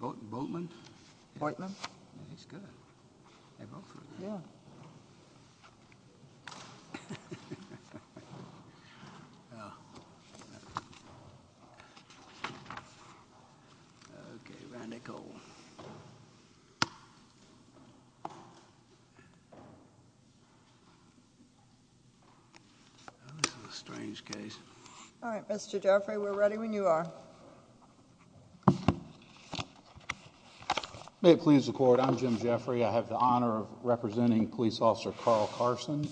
Boatman. Alright. Mister Jeffrey. We're ready when you are. Go ahead. May it please the court, I'm Jim Jeffery. I have the honor of representing Police Officer Carl Carson.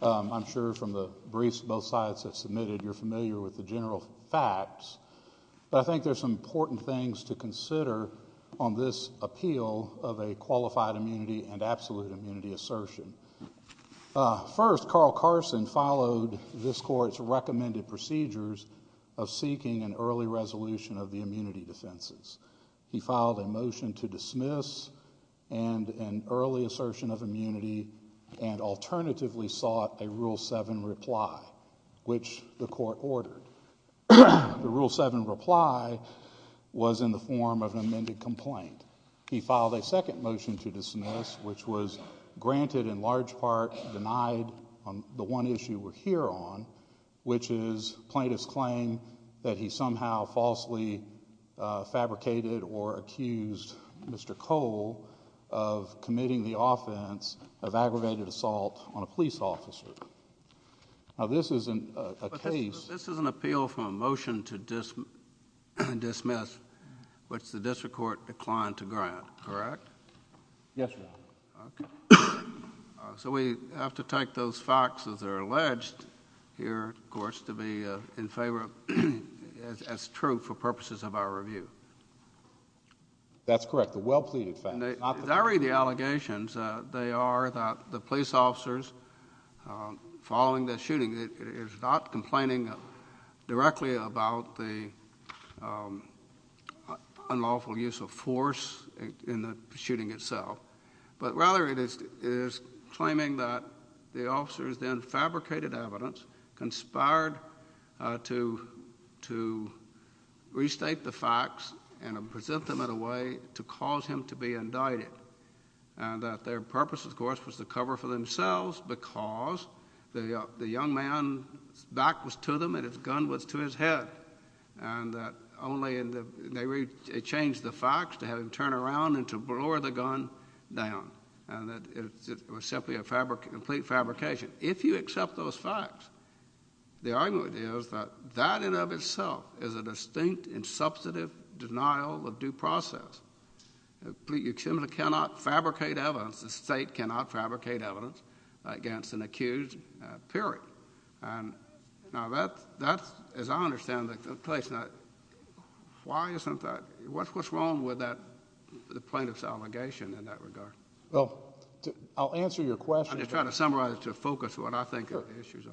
I'm sure from the briefs both sides have submitted you're familiar with the general facts, but I think there's some important things to consider on this appeal of a qualified immunity and absolute immunity assertion. First, Carl Carson followed this resolution of the immunity defenses. He filed a motion to dismiss and an early assertion of immunity and alternatively sought a Rule 7 reply, which the court ordered. The Rule 7 reply was in the form of an amended complaint. He filed a second motion to dismiss, which was granted in large part denied on the one issue we're here on, which is plaintiff's claim that he somehow falsely fabricated or accused Mr. Cole of committing the offense of aggravated assault on a police officer. Now, this is a case... This is an appeal for a motion to dismiss, which the district court declined to grant, correct? Yes, Your Honor. Okay. So we have to take those facts as they're alleged here, of course, to be in favor as true for purposes of our review. That's correct. The well-pleaded facts, not the... As I read the allegations, they are that the police officers following this shooting is not complaining directly about the unlawful use of force in the shooting itself, but rather it is claiming that the officers then fabricated evidence, conspired to restate the facts and present them in a way to cause him to be indicted, and that their purpose, of course, was to... His back was to them, and his gun was to his head, and that only in the... They changed the facts to have him turn around and to lower the gun down, and that it was simply a complete fabrication. If you accept those facts, the argument is that that in and of itself is a distinct and substantive denial of due process. You simply cannot fabricate evidence. The State cannot fabricate evidence. Now, that's, as I understand it, why isn't that... What's wrong with the plaintiff's allegation in that regard? I'll answer your question. I'm just trying to summarize it to focus what I think the issues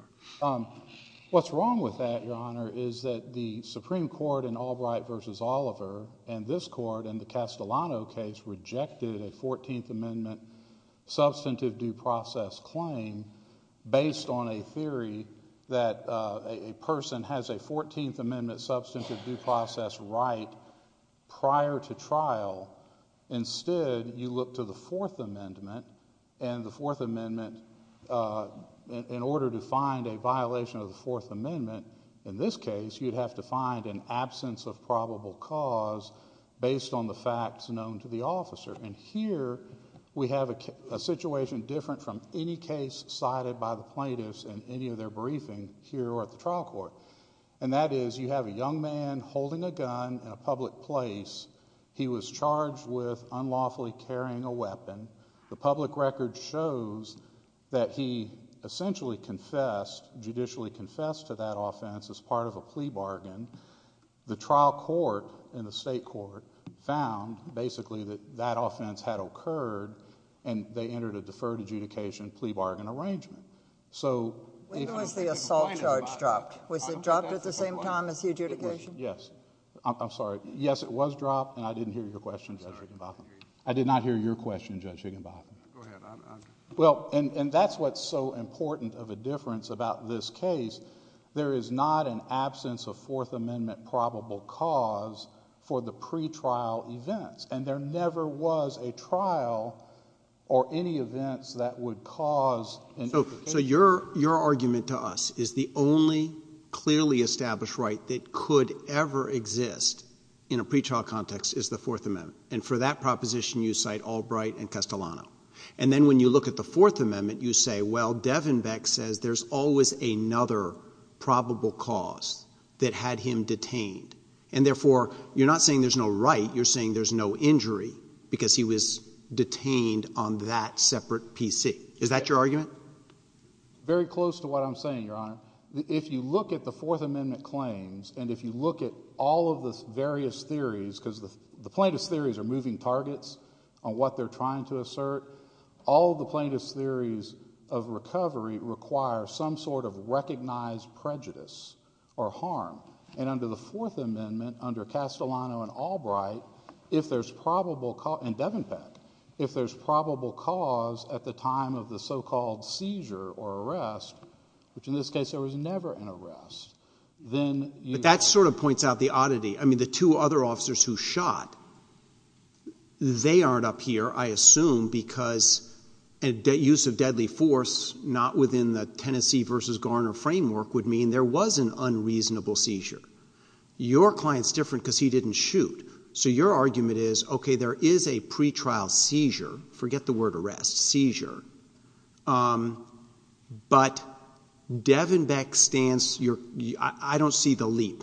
are. What's wrong with that, Your Honor, is that the Supreme Court in Albright v. Oliver and this Court in the Castellano case rejected a 14th Amendment substantive due process claim based on a theory that a person has a 14th Amendment substantive due process right prior to trial. Instead, you look to the Fourth Amendment, and the Fourth Amendment... In order to find a violation of the Fourth Amendment, in this case, you'd have to find an absence of probable cause based on the facts known to the officer. Here, we have a situation different from any case cited by the plaintiffs in any of their briefing here or at the trial court. That is, you have a young man holding a gun in a public place. He was charged with unlawfully carrying a weapon. The public record shows that he essentially confessed, judicially confessed to that offense as part of a plea bargain. That is, that offense had occurred, and they entered a deferred adjudication plea bargain arrangement. When was the assault charge dropped? Was it dropped at the same time as the adjudication? Yes. I'm sorry. Yes, it was dropped, and I didn't hear your question, Judge Higginbotham. I did not hear your question, Judge Higginbotham. Go ahead. Well, and that's what's so important of a difference about this case. There is not an assumption that there was a trial or any events that would cause an adjudication. So your argument to us is the only clearly established right that could ever exist in a pretrial context is the Fourth Amendment. And for that proposition, you cite Albright and Castellano. And then when you look at the Fourth Amendment, you say, well, Devenbeck says there's always another probable cause that had him detained. And therefore, you're not saying there's no right. You're saying there's no injury because he was detained on that separate PC. Is that your argument? Very close to what I'm saying, Your Honor. If you look at the Fourth Amendment claims, and if you look at all of the various theories, because the plaintiff's theories are moving targets on what they're trying to assert, all of the plaintiff's theories of recovery require some sort of recognized prejudice or harm. And under the Fourth Amendment, under Castellano and Albright, if there's probable cause, and Devenbeck, if there's probable cause at the time of the so-called seizure or arrest, which in this case there was never an arrest, then you But that sort of points out the oddity. I mean, the two other officers who shot, they use of deadly force, not within the Tennessee versus Garner framework, would mean there was an unreasonable seizure. Your client's different because he didn't shoot. So your argument is, okay, there is a pretrial seizure, forget the word arrest, seizure, but Devenbeck stands your, I don't see the leap.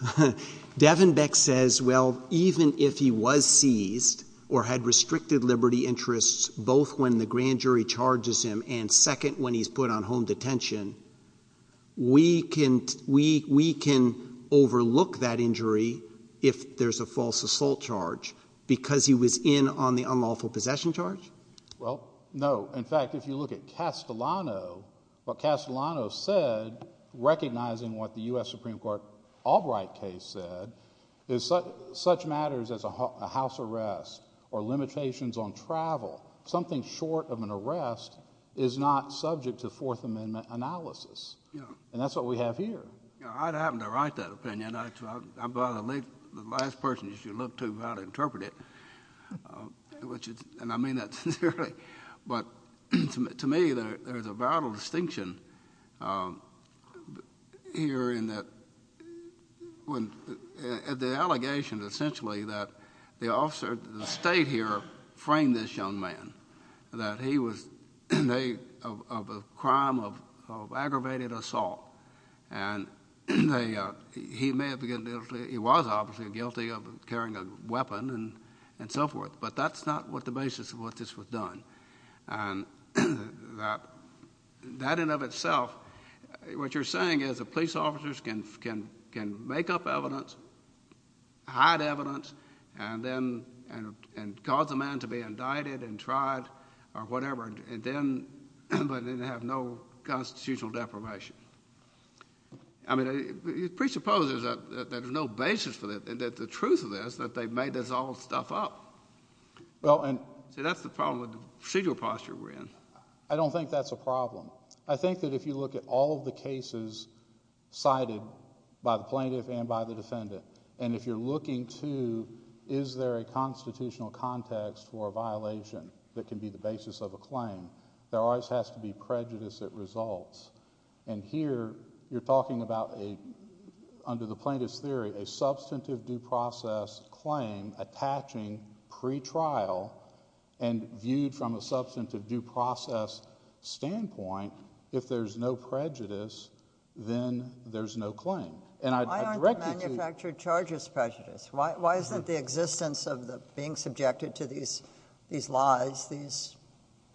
Devenbeck says, well, even if he was seized or had restricted liberty interests, both when the grand jury charges him and second when he's put on home detention, we can overlook that injury if there's a false assault charge, because he was in on the unlawful possession charge? Well, no. In fact, if you look at Castellano, what Castellano said, recognizing what the something short of an arrest is not subject to Fourth Amendment analysis. And that's what we have here. Yeah, I'd happen to write that opinion. I'd rather leave the last person you should look to about to interpret it, and I mean that sincerely. But to me, there's a vital distinction here in that when the allegation essentially that the officer that stayed here framed this young man, that he was in a crime of aggravated assault. And he was obviously guilty of carrying a weapon and so forth, but that's not the basis of what this was done. And that in and of itself, what you're saying is that police officers can make up evidence, hide evidence, and then cause a man to be indicted and tried or whatever, but then have no constitutional deprivation. I mean, it presupposes that there's no basis for that. The truth of this is that they've made this all stuff up. See, that's the problem with the procedural posture we're in. I don't think that's a problem. I think that if you look at all of the cases cited by the plaintiff and by the defendant, and if you're looking to, is there a constitutional context for a violation that can be the basis of a claim, there always has to be prejudice at results. And here, you're talking about, under the plaintiff's theory, a substantive due process standpoint, if there's no prejudice, then there's no claim. Why aren't the manufactured charges prejudiced? Why isn't the existence of being subjected to these lies, these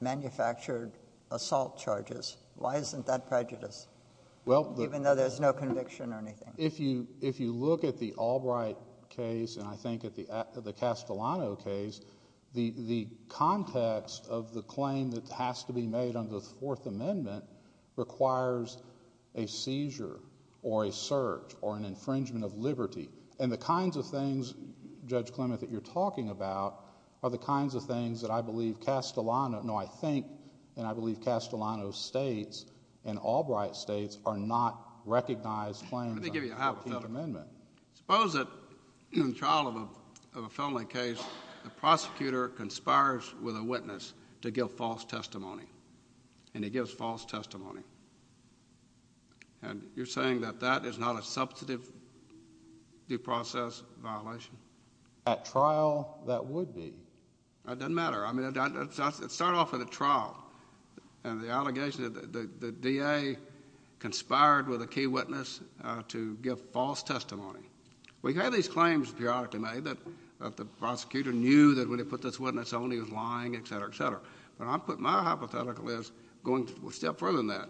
manufactured assault charges, why isn't that prejudiced, even though there's no conviction or anything? If you look at the Albright case and I think at the Castellano case, the context of the claim that has to be made under the Fourth Amendment requires a seizure or a search or an infringement of liberty. And the kinds of things, Judge Clement, that you're talking about are the kinds of things that I believe Castellano, no, I think and I believe Castellano's states and Albright states are not recognized claims under the Fourth Amendment. Let me give you a hypothetical. Suppose that in the trial of a felony case, the prosecutor conspires with a witness to give false testimony and he gives false testimony. And you're saying that that is not a substantive due process violation? At trial, that would be. It doesn't matter. I mean, it started off in the trial and the allegation that the DA conspired with a key witness to give false testimony. We have these claims periodically made that the prosecutor knew that when he put this witness on, he was lying, et cetera, et cetera. But my hypothetical is going a step further than that.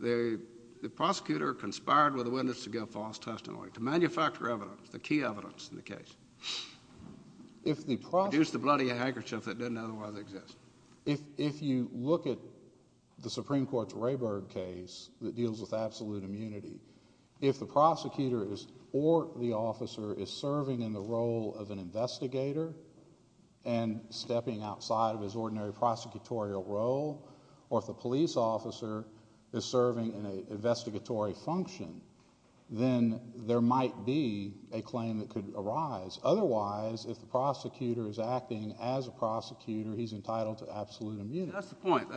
The prosecutor conspired with a witness to give false testimony, to manufacture evidence, the key evidence in the case, to produce the bloody handkerchief that didn't otherwise exist. If you look at the Supreme Court's Rayburg case that deals with absolute immunity, if the prosecutor or the officer is serving in the role of an investigator and stepping outside of his ordinary prosecutorial role, or if the police officer is serving in a investigatory function, then there might be a claim that could arise. Otherwise, if the prosecutor is acting as a prosecutor, he's entitled to absolute immunity. That's the point.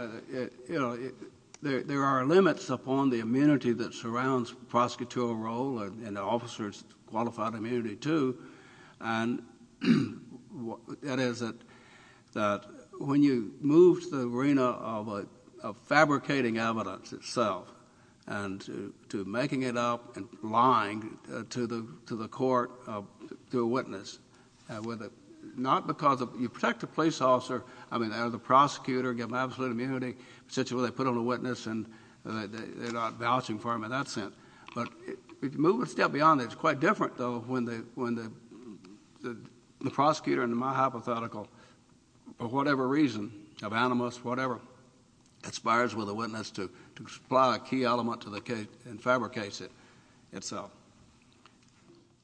There are limits upon the immunity that surrounds prosecutorial role, and an officer's qualified immunity, too. That is, when you move to the arena of fabricating evidence itself and to making it up and lying to the court, to a witness, not because you protect the police officer, I mean, or the prosecutor, give him absolute immunity, essentially they put on a witness and they're not vouching for him in that sense. But if you move a step beyond that, it's quite different, though, when the prosecutor, in my hypothetical, for whatever reason, of animus, whatever, conspires with a witness to supply a key element to the case and fabricates it itself.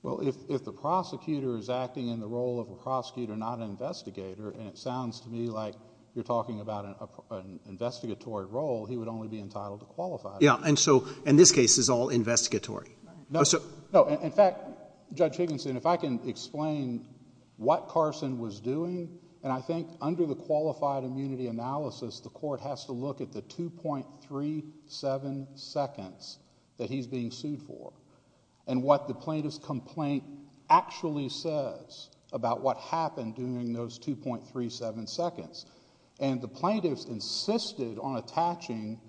Well, if the prosecutor is acting in the role of a prosecutor, not an investigator, and it sounds to me like you're talking about an investigatory role, he would only be entitled to qualified immunity. Yeah, and so, in this case, it's all investigatory. No, in fact, Judge Higginson, if I can explain what Carson was doing, and I think under the qualified immunity analysis, the court has to look at the 2.37 seconds that he's being sued for, and what the plaintiff's complaint actually says about what happened during those 2.37 seconds. And the plaintiff's insisted on attaching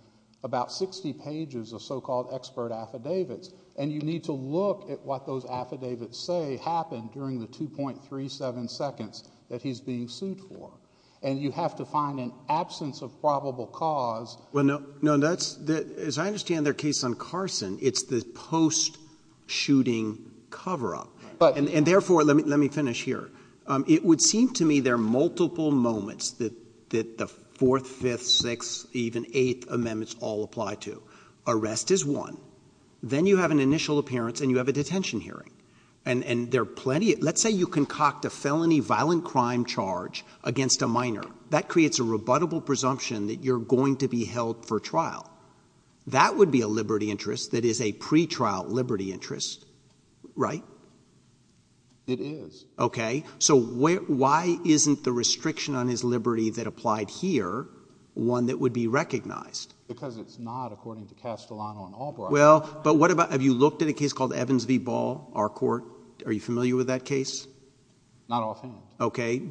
about 60 pages of so-called expert affidavits, and you need to look at what those affidavits say happened during the 2.37 seconds that he's being sued for. And you have to find an absence of probable cause. Well, no, that's, as I understand their case on Carson, it's the post-shooting cover-up. And therefore, let me finish here. It would seem to me there are multiple moments that the 4th, 5th, 6th, even 8th amendments all apply to. Arrest is one. Then you have an initial appearance, and you have a detention hearing. And there are plenty, let's say you concoct a felony violent crime charge against a minor. That creates a rebuttable presumption that you're going to be held for trial. That would be a liberty interest that is a pre-trial liberty interest, right? It is. Okay. So why isn't the restriction on his liberty that applied here one that would be recognized? Because it's not according to Castellano and Albright. Well, but what about, have you looked at a case called Evans v. Ball, our court? Are you familiar with that case? Not offhand. Okay.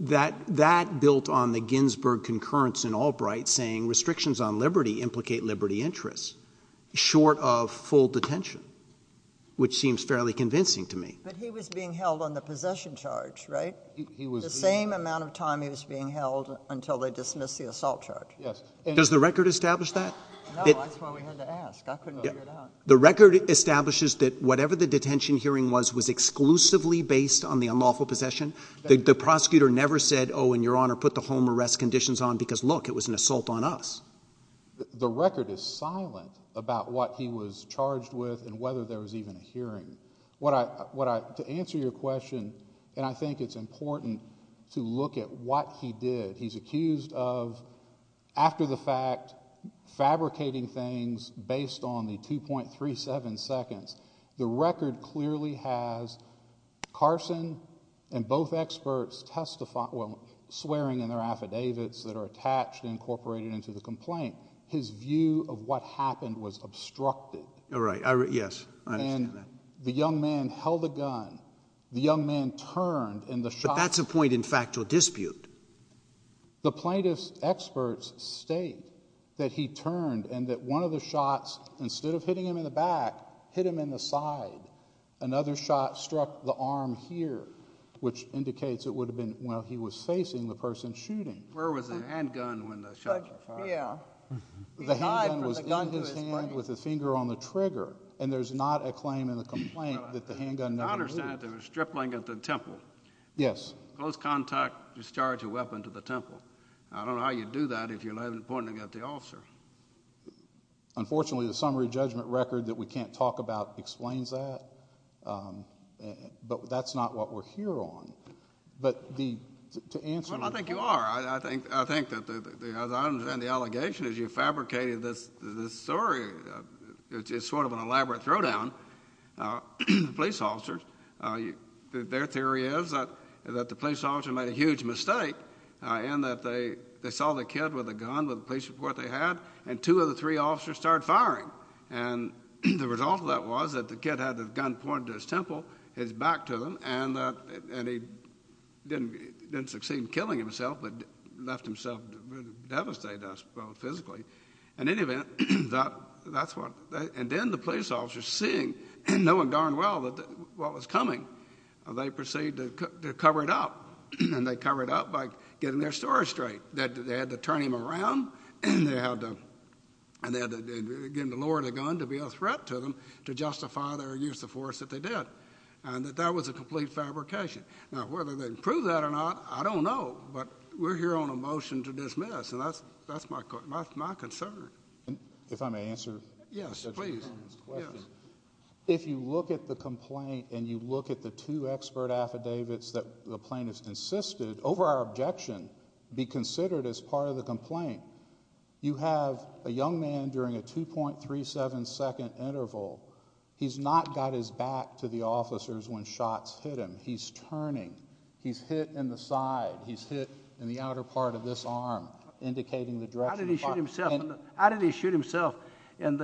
That built on the Ginsburg concurrence in Albright saying restrictions on liberty implicate liberty interests, short of full detention, which seems fairly convincing to me. But he was being held on the possession charge, right? The same amount of time he was being held until they dismissed the assault charge. Yes. Does the record establish that? No, that's why we had to ask. I couldn't figure it out. The record establishes that whatever the detention hearing was, was exclusively based on the unlawful possession. The prosecutor never said, oh, and your honor, put the home arrest conditions on because look, it was an assault on us. The record is silent about what he was charged with and whether there was even a hearing. To answer your question, and I think it's important to look at what he did. He's accused of, after the fact, fabricating things based on the 2.37 seconds. The record clearly has Carson and both experts swearing in their affidavits that are attached and incorporated into the complaint. His view of what happened was obstructed. All right. Yes. I understand that. And the young man held a gun. The young man turned and the shot— But that's a point in factual dispute. He shot him in the back, hit him in the side. Another shot struck the arm here, which indicates it would have been while he was facing the person shooting. Where was the handgun when the shot was fired? He died from the gun to his brain. The handgun was in his hand with the finger on the trigger. And there's not a claim in the complaint that the handgun never moved. I understand there was stripling at the temple. Yes. Close contact, discharge a weapon to the temple. I don't know how you do that if you're pointing at the officer. Unfortunately, the summary judgment record that we can't talk about explains that. But that's not what we're here on. But to answer— Well, I think you are. I think that, as I understand the allegation, as you fabricated this story, it's sort of an elaborate throw-down. The police officers, their theory is that the police officer made a huge mistake and that they saw the kid with a gun, with the police report they had, and two of the three officers started firing. And the result of that was that the kid had the gun pointed to his temple, his back to them, and he didn't succeed in killing himself, but left himself devastated, I suppose, physically. In any event, that's what— And then the police officers, seeing and knowing darn well what was coming, they proceeded to cover it up. And they covered it up by getting their story straight, that they had to turn him around and they had to, again, lower the gun to be a threat to them to justify their use of force that they did. And that that was a complete fabrication. Now, whether they can prove that or not, I don't know. But we're here on a motion to dismiss, and that's my concern. If I may answer— Yes, please. If you look at the complaint and you look at the two expert affidavits that the plaintiffs insisted, over our objection, be considered as part of the complaint, you have a young man during a 2.37-second interval. He's not got his back to the officers when shots hit him. He's turning. He's hit in the side. He's hit in the outer part of this arm, indicating the direction of fire. How did he shoot himself? And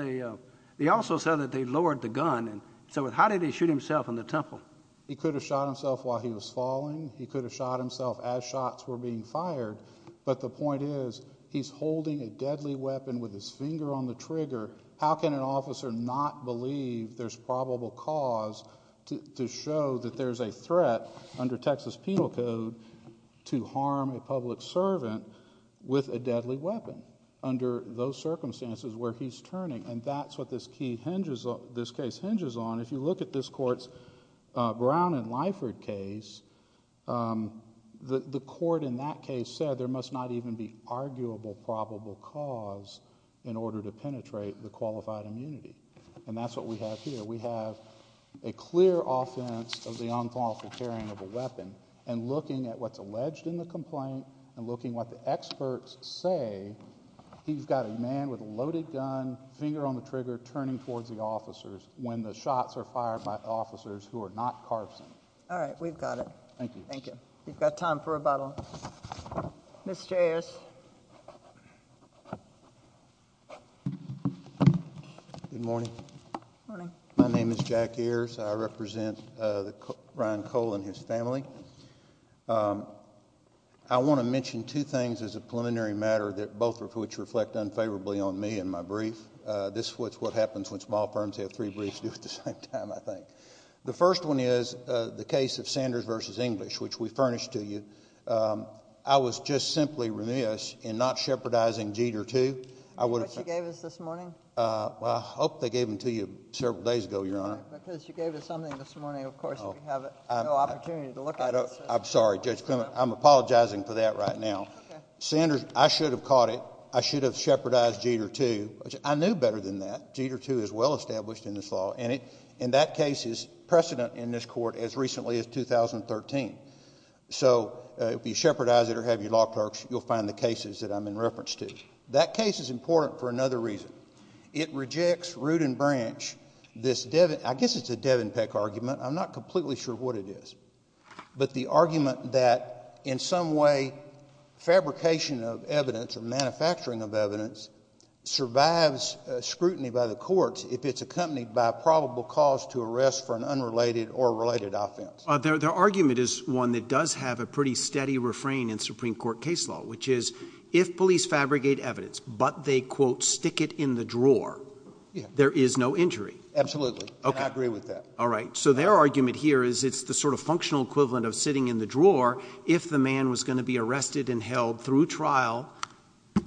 they also said that they lowered the gun. So how did he shoot himself in the temple? He could have shot himself while he was falling. He could have shot himself as shots were being fired. But the point is, he's holding a deadly weapon with his finger on the trigger. How can an officer not believe there's probable cause to show that there's a threat under Texas Penal Code to harm a public servant with a deadly weapon under those circumstances where he's turning? And that's what this case hinges on. And if you look at this court's Brown and Lyford case, the court in that case said there must not even be arguable probable cause in order to penetrate the qualified immunity. And that's what we have here. We have a clear offense of the unlawful carrying of a weapon. And looking at what's alleged in the complaint and looking what the experts say, he's got a man with a loaded gun, finger on the trigger, turning towards the officers when the shots are fired by officers who are not Carson. All right. We've got it. Thank you. Thank you. We've got time for rebuttal. Mr. Ayers. Good morning. Good morning. My name is Jack Ayers. I represent Ryan Cole and his family. on me and my brief. This is what happens when small firms have three briefs to do at the same time, I think. The first one is the case of Sanders v. English, which we furnished to you. I was just simply remiss in not shepherdizing Jeter II. I would have— Which you gave us this morning? Well, I hope they gave them to you several days ago, Your Honor. Because you gave us something this morning, of course, we have no opportunity to look at it. I'm sorry, Judge Clement. I'm apologizing for that right now. Okay. Sanders, I should have caught it. I should have shepherdized Jeter II. I knew better than that. Jeter II is well-established in this law, and that case is precedent in this court as recently as 2013. So if you shepherdize it or have your law clerks, you'll find the cases that I'm in reference to. That case is important for another reason. It rejects root and branch, this Devin—I guess it's a Devin Peck argument. I'm not completely sure what it is. But the argument that in some way fabrication of evidence or manufacturing of evidence survives scrutiny by the courts if it's accompanied by probable cause to arrest for an unrelated or related offense. Their argument is one that does have a pretty steady refrain in Supreme Court case law, which is if police fabricate evidence but they, quote, stick it in the drawer, there is no injury. Absolutely. And I agree with that. All right. So their argument here is it's the sort of functional equivalent of sitting in the drawer if the man was going to be arrested and held through trial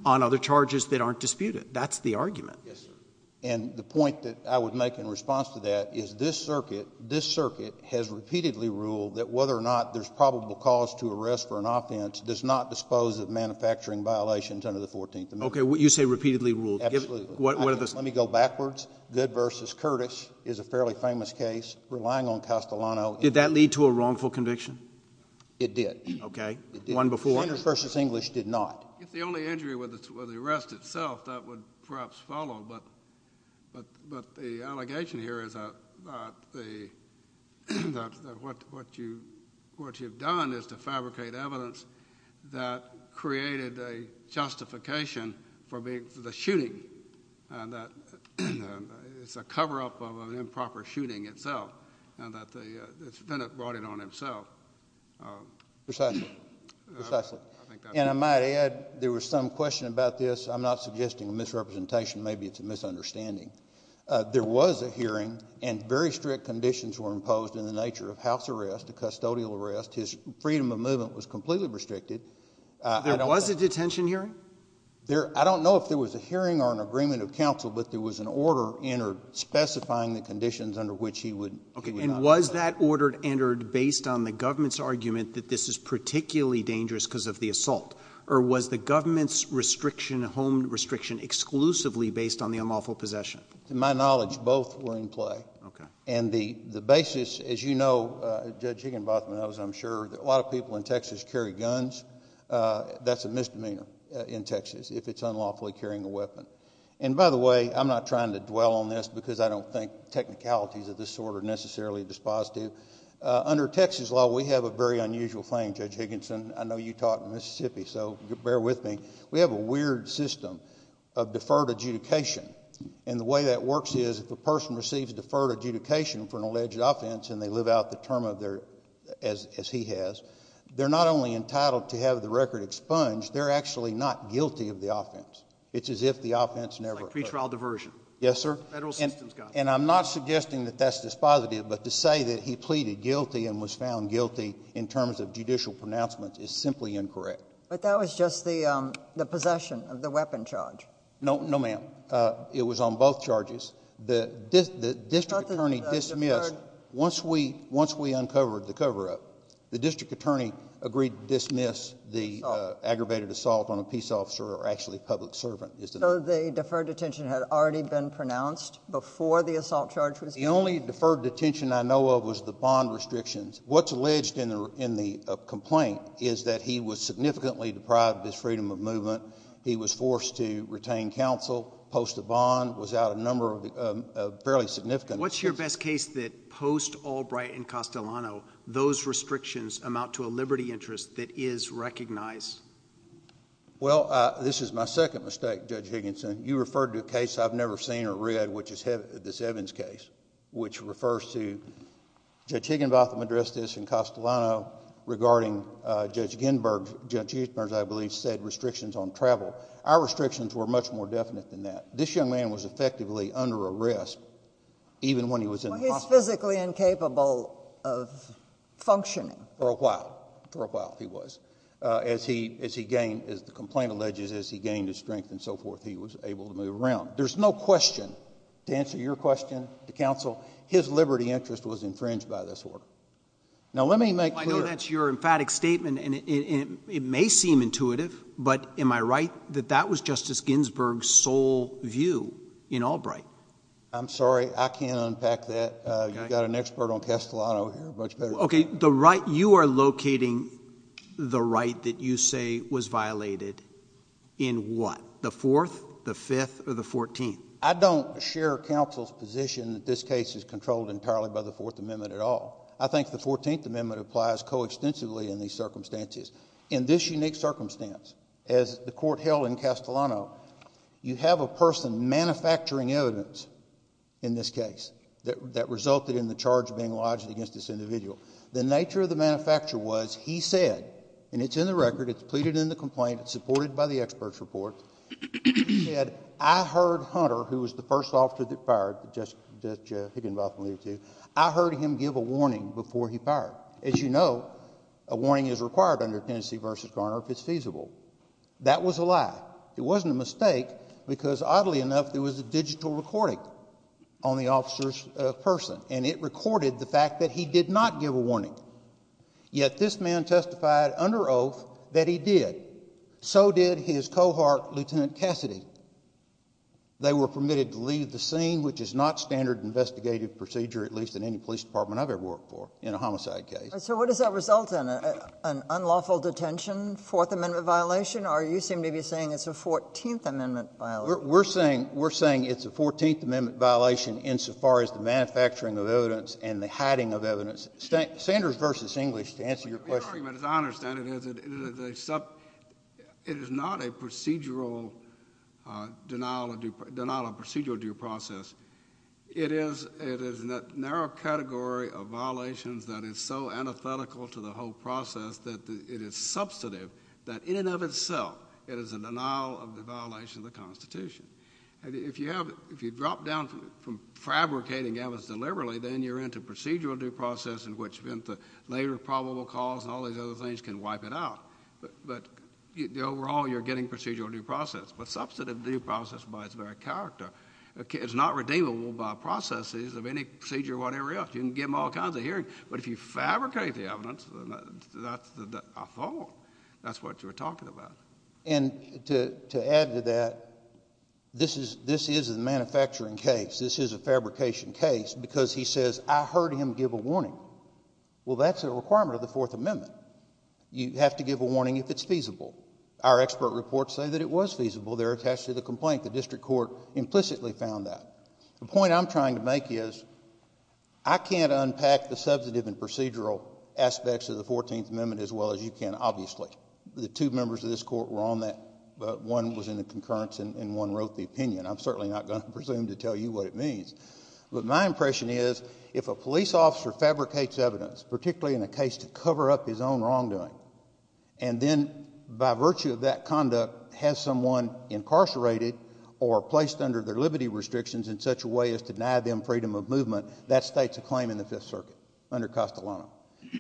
on other charges that aren't disputed. That's the argument. Yes, sir. And the point that I would make in response to that is this circuit, this circuit has repeatedly ruled that whether or not there's probable cause to arrest for an offense does not dispose of manufacturing violations under the Fourteenth Amendment. Okay. You say repeatedly ruled. Absolutely. What are those? Let me go backwards. Good v. Curtis is a fairly famous case, relying on Castellano. Did that lead to a wrongful conviction? It did. Okay. One before? Good v. English did not. If the only injury was the arrest itself, that would perhaps follow, but the allegation here is that what you've done is to fabricate evidence that created a justification for the shooting, and that it's a cover-up of an improper shooting itself, and that the defendant brought it on himself. Precisely. Precisely. And I might add, there was some question about this. I'm not suggesting a misrepresentation. Maybe it's a misunderstanding. There was a hearing, and very strict conditions were imposed in the nature of house arrest, a custodial arrest. His freedom of movement was completely restricted. There was a detention hearing? I don't know if there was a hearing or an agreement of counsel, but there was an order entered specifying the conditions under which he would not be allowed. Was that order entered based on the government's argument that this is particularly dangerous because of the assault, or was the government's home restriction exclusively based on the unlawful possession? To my knowledge, both were in play. And the basis, as you know, Judge Higginbotham knows, I'm sure, a lot of people in Texas carry guns. That's a misdemeanor in Texas, if it's unlawfully carrying a weapon. And by the way, I'm not trying to dwell on this because I don't think technicalities of this sort are necessarily dispositive. Under Texas law, we have a very unusual thing, Judge Higginson, I know you taught in Mississippi, so bear with me. We have a weird system of deferred adjudication, and the way that works is if a person receives deferred adjudication for an alleged offense, and they live out the term as he has, they're not only entitled to have the record expunged, they're actually not guilty of the offense. It's as if the offense never occurred. Like pretrial diversion. Yes, sir. Federal assistance got them. And I'm not suggesting that that's dispositive, but to say that he pleaded guilty and was found guilty in terms of judicial pronouncements is simply incorrect. But that was just the possession of the weapon charge. No, ma'am. It was on both charges. The district attorney dismissed, once we uncovered the cover-up, the district attorney agreed to dismiss the aggravated assault on a peace officer or actually a public servant. So the deferred detention had already been pronounced before the assault charge was given? The only deferred detention I know of was the bond restrictions. What's alleged in the complaint is that he was significantly deprived of his freedom of movement. He was forced to retain counsel post the bond, was out of a number of fairly significant cases. What's your best case that post Albright and Castellano, those restrictions amount to a liberty interest that is recognized? Well, this is my second mistake, Judge Higginson. You referred to a case I've never seen or read, which is this Evans case, which refers to Judge Higginbotham addressed this in Castellano regarding Judge Ginsburg, Judge Higgins, I believe, said restrictions on travel. Our restrictions were much more definite than that. This young man was effectively under arrest even when he was in the hospital. Well, he was physically incapable of functioning. For a while. For a while he was. As he gained, as the complaint alleges, as he gained his strength and so forth, he was able to move around. There's no question, to answer your question, to counsel, his liberty interest was infringed by this order. Now let me make clear— I don't share counsel's position that this case is controlled entirely by the Fourth Amendment at all. I think the Fourteenth Amendment applies coextensively in these circumstances. In this unique circumstance, as the court held in Castellano, you have a person manufacturing evidence in this case that resulted in the charge being lodged against this individual. The nature of the manufacture was, he said, and it's in the record, it's pleaded in the complaint, it's supported by the expert's report, he said, I heard Hunter, who was the first officer that fired Judge Higginbotham, I heard him give a warning before he fired. As you know, a warning is required under Tennessee v. Garner if it's feasible. That was a lie. It wasn't a mistake because, oddly enough, there was a digital recording on the officer's person, and it recorded the fact that he did not give a warning, yet this man testified under oath that he did. So did his cohort, Lieutenant Cassidy. They were permitted to leave the scene, which is not standard investigative procedure, at least in any police department I've ever worked for, in a homicide case. So what does that result in? An unlawful detention, Fourth Amendment violation, or you seem to be saying it's a Fourteenth Amendment violation? We're saying it's a Fourteenth Amendment violation insofar as the manufacturing of evidence and the hiding of evidence. Sanders v. English, to answer your question. Your argument, as I understand it, is that it is not a procedural denial of due process. It is a narrow category of violations that is so antithetical to the whole process that it is substantive that, in and of itself, it is a denial of the violation of the Constitution. If you drop down from fabricating evidence deliberately, then you're into procedural due process in which the later probable cause and all these other things can wipe it out. But overall, you're getting procedural due process. But substantive due process, by its very character, is not redeemable by processes of any procedure or whatever else. You can give them all kinds of hearings. But if you fabricate the evidence, I thought that's what you were talking about. And to add to that, this is a manufacturing case. This is a fabrication case. Because he says, I heard him give a warning. Well, that's a requirement of the Fourth Amendment. You have to give a warning if it's feasible. Our expert reports say that it was feasible. They're attached to the complaint. The district court implicitly found that. The point I'm trying to make is, I can't unpack the substantive and procedural aspects of the Fourteenth Amendment as well as you can, obviously. The two members of this court were on that, but one was in the concurrence and one wrote the opinion. I'm certainly not going to presume to tell you what it means. But my impression is, if a police officer fabricates evidence, particularly in a case to cover up his own wrongdoing, and then, by virtue of that conduct, has someone incarcerated or placed under their liberty restrictions in such a way as to deny them freedom of movement, that states a claim in the Fifth Circuit under Costolano.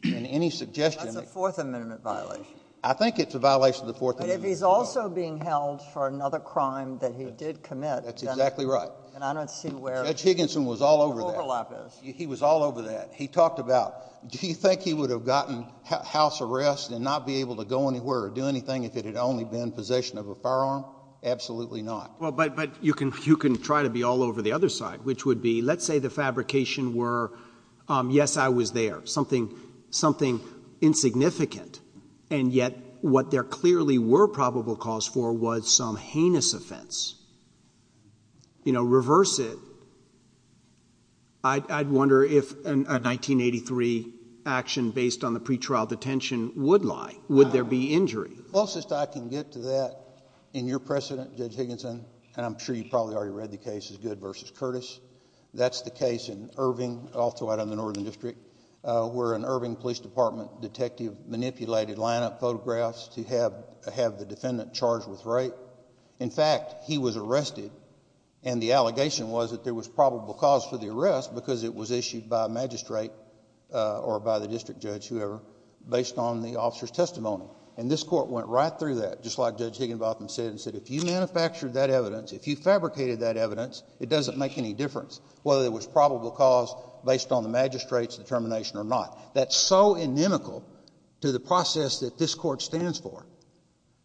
Any suggestion— That's a Fourth Amendment violation. I think it's a violation of the Fourth Amendment as well. But if he's also being held for another crime that he did commit, then— That's exactly right. And I don't see where— Judge Higginson was all over that. —the overlap is. He was all over that. He talked about, do you think he would have gotten house arrest and not be able to go anywhere or do anything if it had only been possession of a firearm? Absolutely not. Well, but you can try to be all over the other side, which would be, let's say the fabrication were, yes, I was there, something insignificant. And yet, what there clearly were probable cause for was some heinous offense. You know, reverse it. I'd wonder if a 1983 action based on the pretrial detention would lie. Would there be injury? The closest I can get to that in your precedent, Judge Higginson, and I'm sure you probably already read the case as Good v. Curtis, that's the case in Irving, also out of the Northern District, where an Irving Police Department detective manipulated line-up photographs to have the defendant charged with rape. In fact, he was arrested, and the allegation was that there was probable cause for the arrest because it was issued by a magistrate or by the district judge, whoever, based on the officer's testimony. And this court went right through that, just like Judge Higginbotham said, and said if you manufactured that evidence, if you fabricated that evidence, it doesn't make any difference whether it was probable cause based on the magistrate's determination or not. That's so inimical to the process that this court stands for.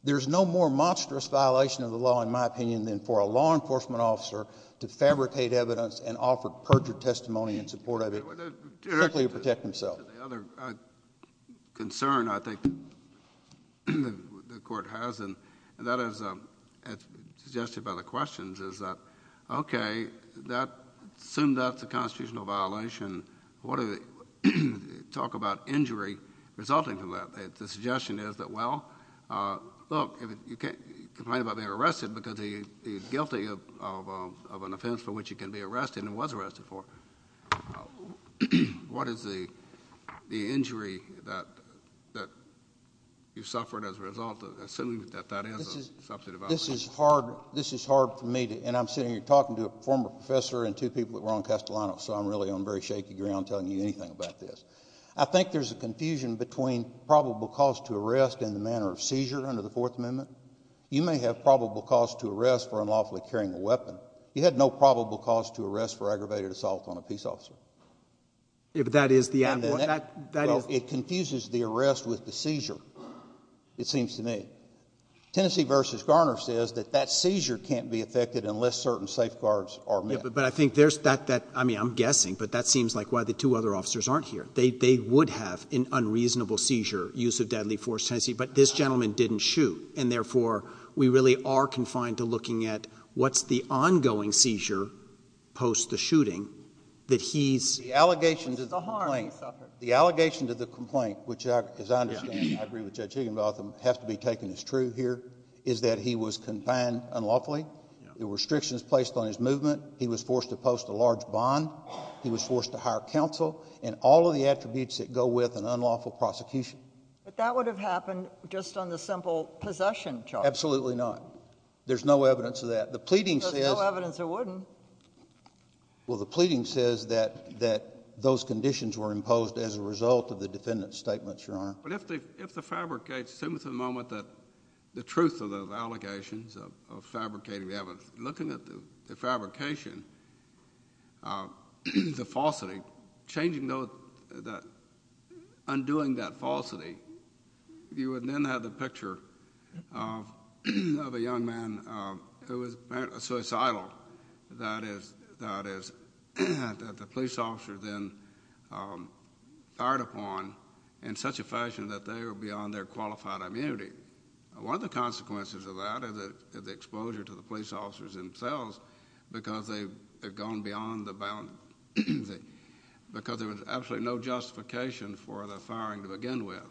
There's no more monstrous violation of the law, in my opinion, than for a law enforcement officer to fabricate evidence and offer perjured testimony in support of it, simply to protect himself. The other concern, I think, the court has, and that is suggested by the questions, is that, okay, assume that's a constitutional violation, what do they talk about injury resulting from that? The suggestion is that, well, look, you can't complain about being arrested because he's guilty of an offense for which he can be arrested and was arrested for. What is the injury that you suffered as a result, assuming that that is a substantive violation? This is hard for me to, and I'm sitting here talking to a former professor and two people at Rowan-Castellano, so I'm really on very shaky ground telling you anything about this. I think there's a confusion between probable cause to arrest and the manner of seizure under the Fourth Amendment. You may have probable cause to arrest for unlawfully carrying a weapon. You had no probable cause to arrest for aggravated assault on a peace officer. Yeah, but that is the ambush. It confuses the arrest with the seizure, it seems to me. Tennessee v. Garner says that that seizure can't be effected unless certain safeguards are met. But I think there's that, I mean, I'm guessing, but that seems like why the two other officers aren't here. They would have an unreasonable seizure, use of deadly force, Tennessee, but this gentleman didn't shoot. And therefore, we really are confined to looking at what's the ongoing seizure post the shooting that he's... The allegations of the complaint, which as I understand, I agree with Judge Higginbotham, have to be taken as true here, is that he was confined unlawfully. The restrictions placed on his movement, he was forced to post a large bond, he was forced to hire counsel, and all of the attributes that go with an unlawful prosecution. But that would have happened just on the simple possession charge. Absolutely not. There's no evidence of that. The pleading says... There's no evidence it wouldn't. Well, the pleading says that those conditions were imposed as a result of the defendant's statements, Your Honor. But if the fabricates, it seems at the moment that the truth of the allegations of fabricating... Yeah, but looking at the fabrication, the falsity, undoing that falsity, you would then have the picture of a young man who was apparently suicidal. That is, that the police officer then fired upon in such a fashion that they were beyond their qualified immunity. One of the consequences of that is the exposure to the police officers themselves, because they've gone beyond the bound... Because there was absolutely no justification for the firing to begin with.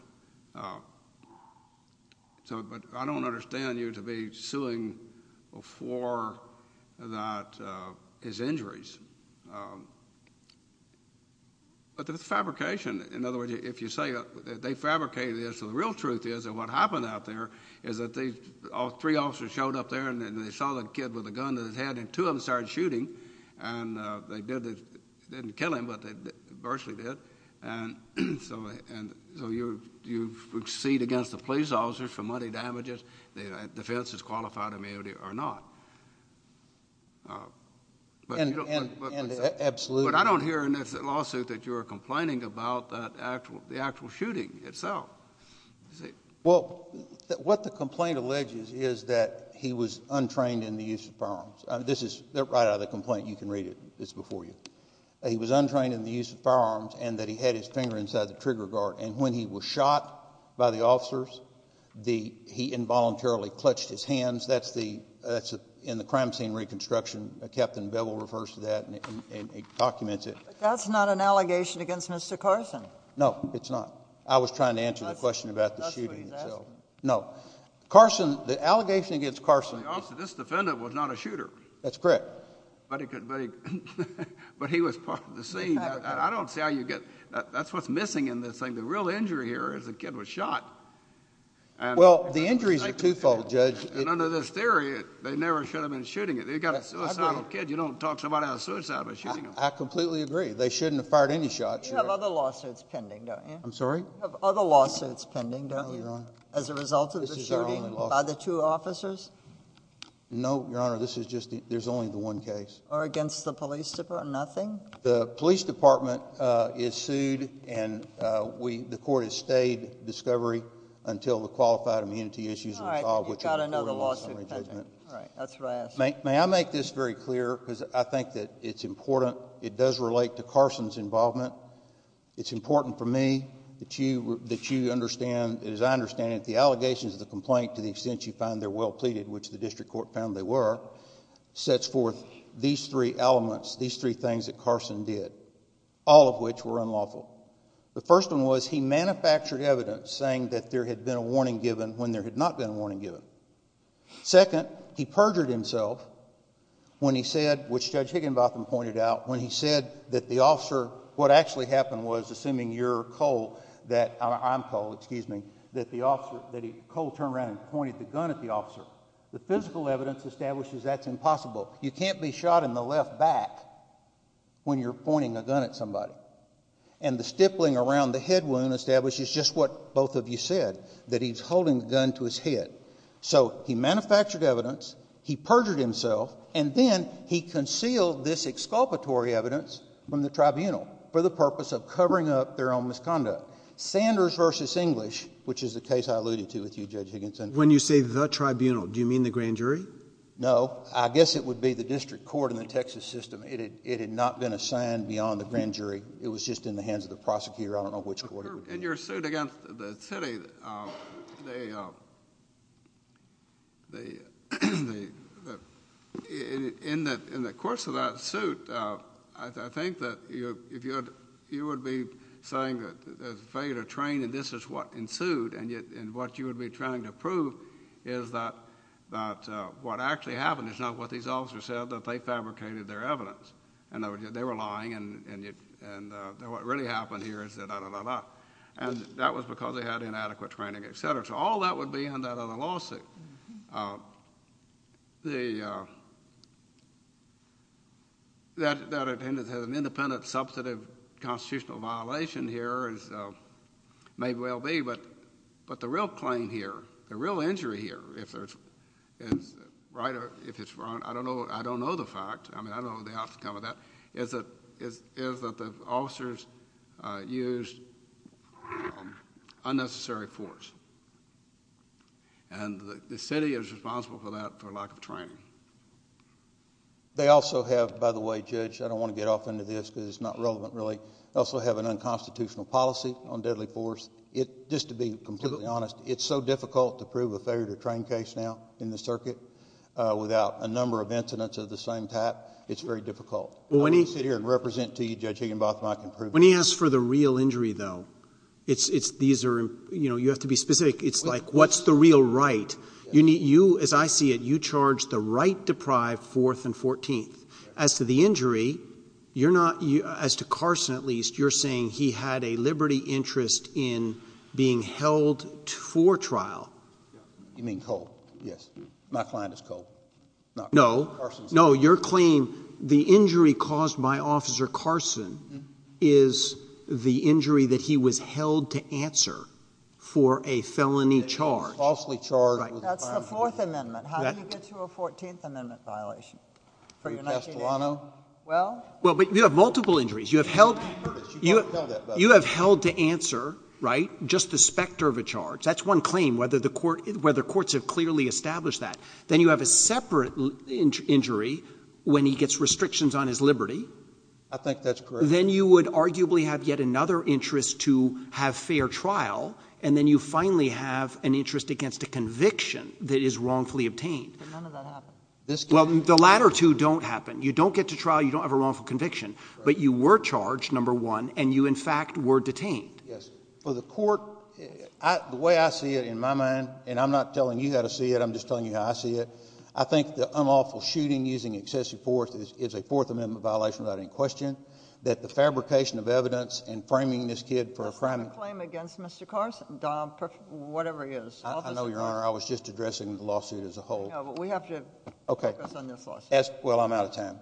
But I don't understand you to be suing for his injuries. But the fabrication, in other words, if you say that they fabricated this, so the real problem out there is that three officers showed up there, and they saw the kid with a gun to his head, and two of them started shooting, and they didn't kill him, but they virtually did, and so you proceed against the police officers for money damages, defense is qualified immunity or not. Absolutely. But I don't hear in this lawsuit that you are complaining about the actual shooting itself. Well, what the complaint alleges is that he was untrained in the use of firearms. This is right out of the complaint. You can read it. It's before you. He was untrained in the use of firearms, and that he had his finger inside the trigger guard. And when he was shot by the officers, he involuntarily clutched his hands. That's the... In the crime scene reconstruction, Captain Bevel refers to that, and he documents it. That's not an allegation against Mr. Carson. No, it's not. I was trying to answer the question about the shooting itself. That's what he's asking. No. Carson... The allegation against Carson... The officer, this defendant, was not a shooter. That's correct. But he could... But he was part of the scene. I don't see how you get... That's what's missing in this thing. The real injury here is the kid was shot, and... Well, the injury's a twofold, Judge. And under this theory, they never should have been shooting it. They've got a suicidal kid. You don't talk somebody out of suicide by shooting them. I completely agree. They shouldn't have fired any shots. You have other lawsuits pending, don't you? No, Your Honor. As a result of the shooting... This is our only lawsuit.... by the two officers? No, Your Honor. This is just... There's only the one case. Or against the police department? Nothing? The police department is sued, and the court has stayed discovery until the qualified immunity issues... All right. But you've got another lawsuit pending. All right. That's what I asked. May I make this very clear? It's important for you. It's important for me. It's important for you. It's important for you. It's important for me. It's important for you. that you understand, as I understand it, the allegations of the complaint, to the extent you find they're well pleaded, which the district court found they were, sets forth these three elements, these three things that Carson did, all of which were unlawful. The first one was he manufactured evidence saying that there had been a warning given when there had not been a warning given. Second, he perjured himself when he said, which Judge Higginbotham pointed out, when he said that the officer, what actually happened was, assuming you're Cole, that I'm Cole, excuse me, that the officer, that Cole turned around and pointed the gun at the officer. The physical evidence establishes that's impossible. You can't be shot in the left back when you're pointing a gun at somebody. And the stippling around the head wound establishes just what both of you said, that he's holding the gun to his head. So he manufactured evidence, he perjured himself, and then he concealed this exculpatory evidence from the tribunal for the purpose of covering up their own misconduct. Sanders v. English, which is the case I alluded to with you, Judge Higginbotham. When you say the tribunal, do you mean the grand jury? No. I guess it would be the district court in the Texas system. It had not been assigned beyond the grand jury. It was just in the hands of the prosecutor. I don't know which court it was in. In your suit against the city, in the course of that suit, I think that you would be saying that there's a failure to train and this is what ensued, and what you would be trying to prove is that what actually happened is not what these officers said, that they fabricated their evidence. They were lying and what really happened here is that, da-da-da-da-da, and that was because they had inadequate training, et cetera. So all that would be in that other lawsuit. That has an independent, substantive constitutional violation here, as may well be, but the real claim here, the real injury here, if it's right or if it's wrong, I don't know the fact. I mean, I don't know the outcome of that, is that the officers used unnecessary force and the city is responsible for that, for lack of training. They also have, by the way, Judge, I don't want to get off into this because it's not relevant really. They also have an unconstitutional policy on deadly force. Just to be completely honest, it's so difficult to prove a failure to train case now in the past. It's very difficult. I won't sit here and represent to you, Judge Higginbotham, I can prove it. When he asks for the real injury, though, you have to be specific. It's like what's the real right? As I see it, you charged the right deprived Fourth and Fourteenth. As to the injury, you're not, as to Carson at least, you're saying he had a liberty interest in being held for trial. You mean cold, yes. My client is cold. No. Carson's cold. No. Your claim, the injury caused by Officer Carson is the injury that he was held to answer for a felony charge. That he was falsely charged. That's the Fourth Amendment. How can you get through a Fourteenth Amendment violation for your 19 years? Well, but you have multiple injuries. You have held to answer, right, just the specter of a charge. That's one claim, whether courts have clearly established that. Then you have a separate injury when he gets restrictions on his liberty. I think that's correct. Then you would arguably have yet another interest to have fair trial. And then you finally have an interest against a conviction that is wrongfully obtained. But none of that happened. Well, the latter two don't happen. You don't get to trial. You don't have a wrongful conviction. But you were charged, number one, and you in fact were detained. Yes. For the court, the way I see it in my mind, and I'm not telling you how to see it, I'm just telling you how I see it, I think the unlawful shooting using excessive force is a Fourth Amendment violation without any question, that the fabrication of evidence and framing this kid for a crime. That's not a claim against Mr. Carson, Dom, whatever he is. I know, Your Honor. I was just addressing the lawsuit as a whole. No, but we have to focus on this lawsuit. Well, I'm out of time.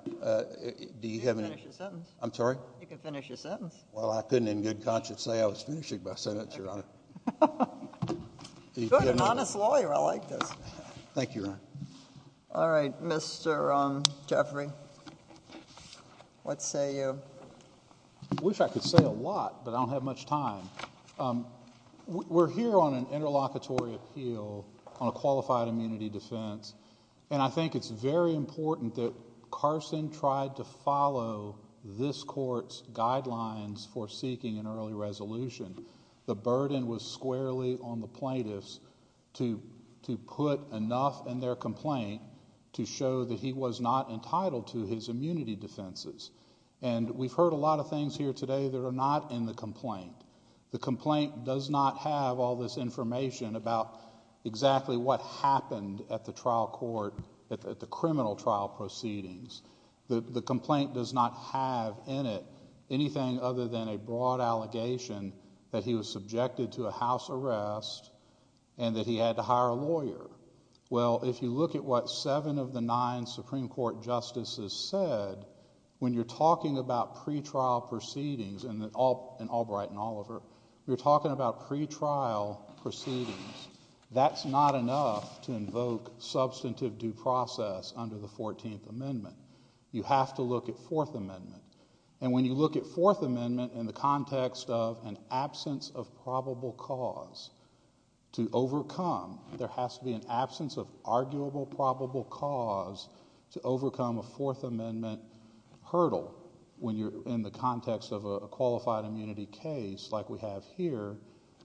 You can finish your sentence. I'm sorry? You can finish your sentence. Well, I couldn't in good conscience say I was finishing my sentence, Your Honor. Good, an honest lawyer. I like this. Thank you, Your Honor. All right. Mr. Jeffrey. What say you? I wish I could say a lot, but I don't have much time. We're here on an interlocutory appeal on a qualified immunity defense. I think it's very important that Carson tried to follow this court's guidelines for seeking an early resolution. The burden was squarely on the plaintiffs to put enough in their complaint to show that he was not entitled to his immunity defenses. We've heard a lot of things here today that are not in the complaint. The complaint does not have all this information about exactly what happened at the trial court, at the criminal trial proceedings. The complaint does not have in it anything other than a broad allegation that he was subjected to a house arrest and that he had to hire a lawyer. Well, if you look at what seven of the nine Supreme Court justices said, when you're talking about pretrial proceedings in Albright and Oliver, you're talking about pretrial proceedings. That's not enough to invoke substantive due process under the 14th Amendment. You have to look at 4th Amendment. And when you look at 4th Amendment in the context of an absence of probable cause to overcome, there has to be an absence of arguable probable cause to overcome a 4th Amendment hurdle when you're in the context of a qualified immunity case like we have here.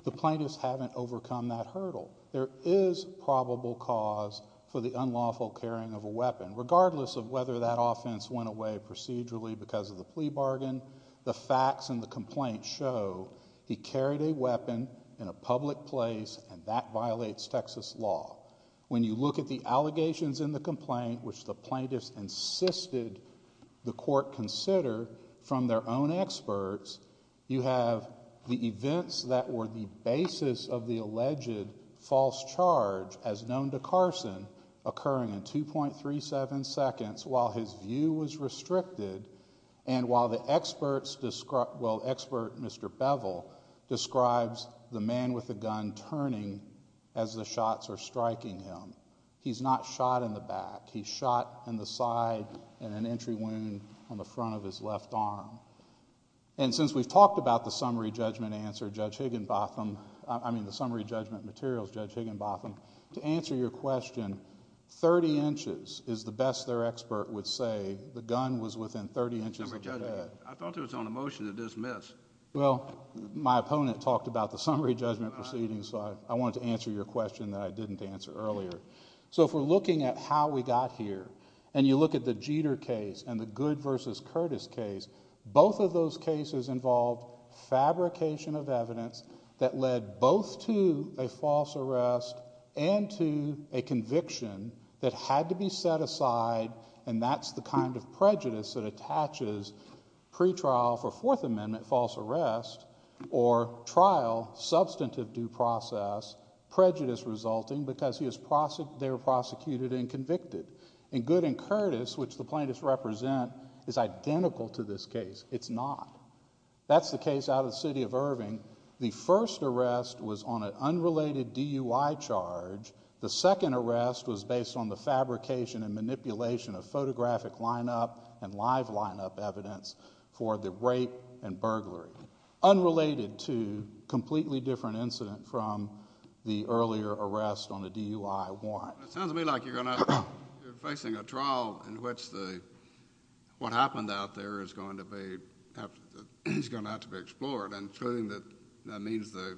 The plaintiffs haven't overcome that hurdle. There is probable cause for the unlawful carrying of a weapon, regardless of whether that offense went away procedurally because of the plea bargain. The facts in the complaint show he carried a weapon in a public place and that violates Texas law. When you look at the allegations in the complaint, which the plaintiffs insisted the court consider from their own experts, you have the events that were the basis of the alleged false charge, as known to Carson, occurring in 2.37 seconds while his view was restricted and while the experts describe, well, expert Mr. Bevel describes the man with the gun turning as the shots are striking him. He's not shot in the back. He's shot in the side and an entry wound on the front of his left arm. Since we've talked about the summary judgment answer, Judge Higginbotham, I mean the summary judgment materials, Judge Higginbotham, to answer your question, 30 inches is the best their expert would say. The gun was within 30 inches of the bed. I thought it was on a motion to dismiss. Well, my opponent talked about the summary judgment proceedings, so I wanted to answer your question that I didn't answer earlier. So if we're looking at how we got here and you look at the Jeter case and the Goode versus Curtis case, both of those cases involved fabrication of evidence that led both to a false arrest and to a conviction that had to be set aside and that's the kind of prejudice that attaches pretrial for Fourth Amendment false arrest or trial substantive due process prejudice resulting because they were prosecuted and convicted and Goode and Curtis, which the plaintiffs represent, is identical to this case. It's not. That's the case out of the city of Irving. The first arrest was on an unrelated DUI charge. The second arrest was based on the fabrication and manipulation of photographic lineup and live lineup evidence for the rape and burglary. Unrelated to a completely different incident from the earlier arrest on a DUI warrant. It sounds to me like you're facing a trial in which what happened out there is going to have to be explored and proving that that means the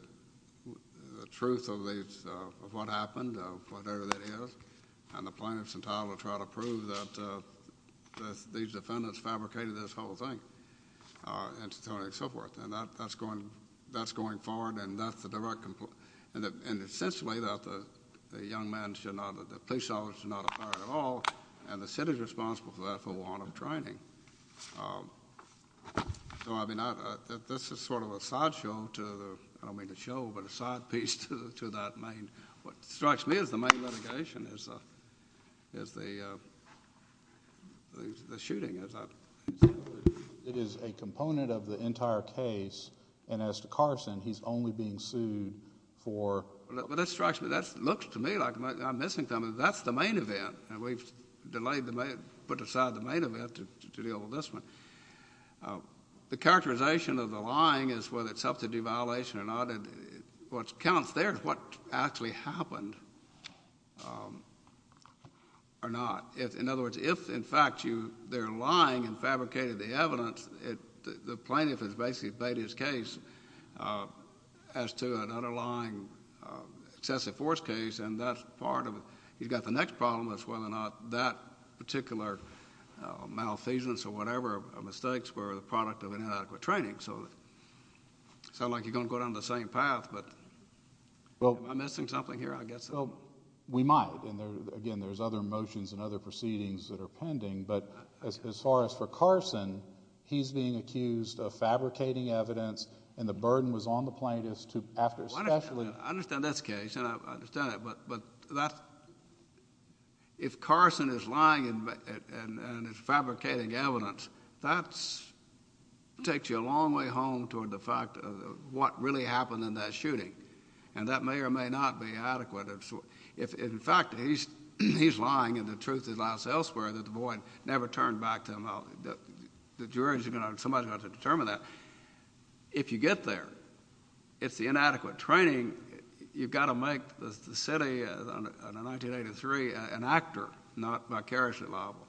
truth of what happened, of whatever that is, and the plaintiffs entitled to try to prove that these defendants fabricated this whole thing and so forth. That's going forward and that's the direct complaint and essentially that the young man should not, the police officer should not be fired at all and the city is responsible for that for warrant of training. This is sort of a side show to, I don't mean a show, but a side piece to that main, what is a component of the entire case and as to Carson, he's only being sued for... That strikes me, that looks to me like I'm missing something. That's the main event and we've delayed, put aside the main event to deal with this one. The characterization of the lying is whether it's up to due violation or not. What counts there is what actually happened or not. In other words, if in fact they're lying and fabricated the evidence, the plaintiff has basically bade his case as to an underlying excessive force case and that's part of it. You've got the next problem as to whether or not that particular malfeasance or whatever mistakes were the product of inadequate training, so it sounds like you're going to go down the same path, but am I missing something here, I guess? We might and again, there's other motions and other proceedings that are pending, but as far as for Carson, he's being accused of fabricating evidence and the burden was on the plaintiffs to, after especially... I understand that's the case and I understand it, but if Carson is lying and is fabricating evidence, that takes you a long way home toward the fact of what really happened in that shooting and that may or may not be adequate. In fact, he's lying and the truth is lost elsewhere that the boy never turned back to him, the jury's going to... somebody's going to have to determine that. If you get there, it's the inadequate training. You've got to make the city in 1983 an actor, not vicariously liable,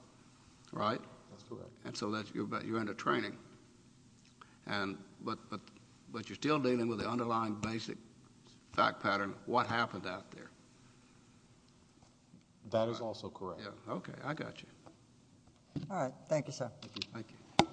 right? That's correct. So you're in the training, but you're still dealing with the underlying basic fact pattern, what happened out there? That is also correct. Okay, I got you. All right, thank you, sir. Thank you.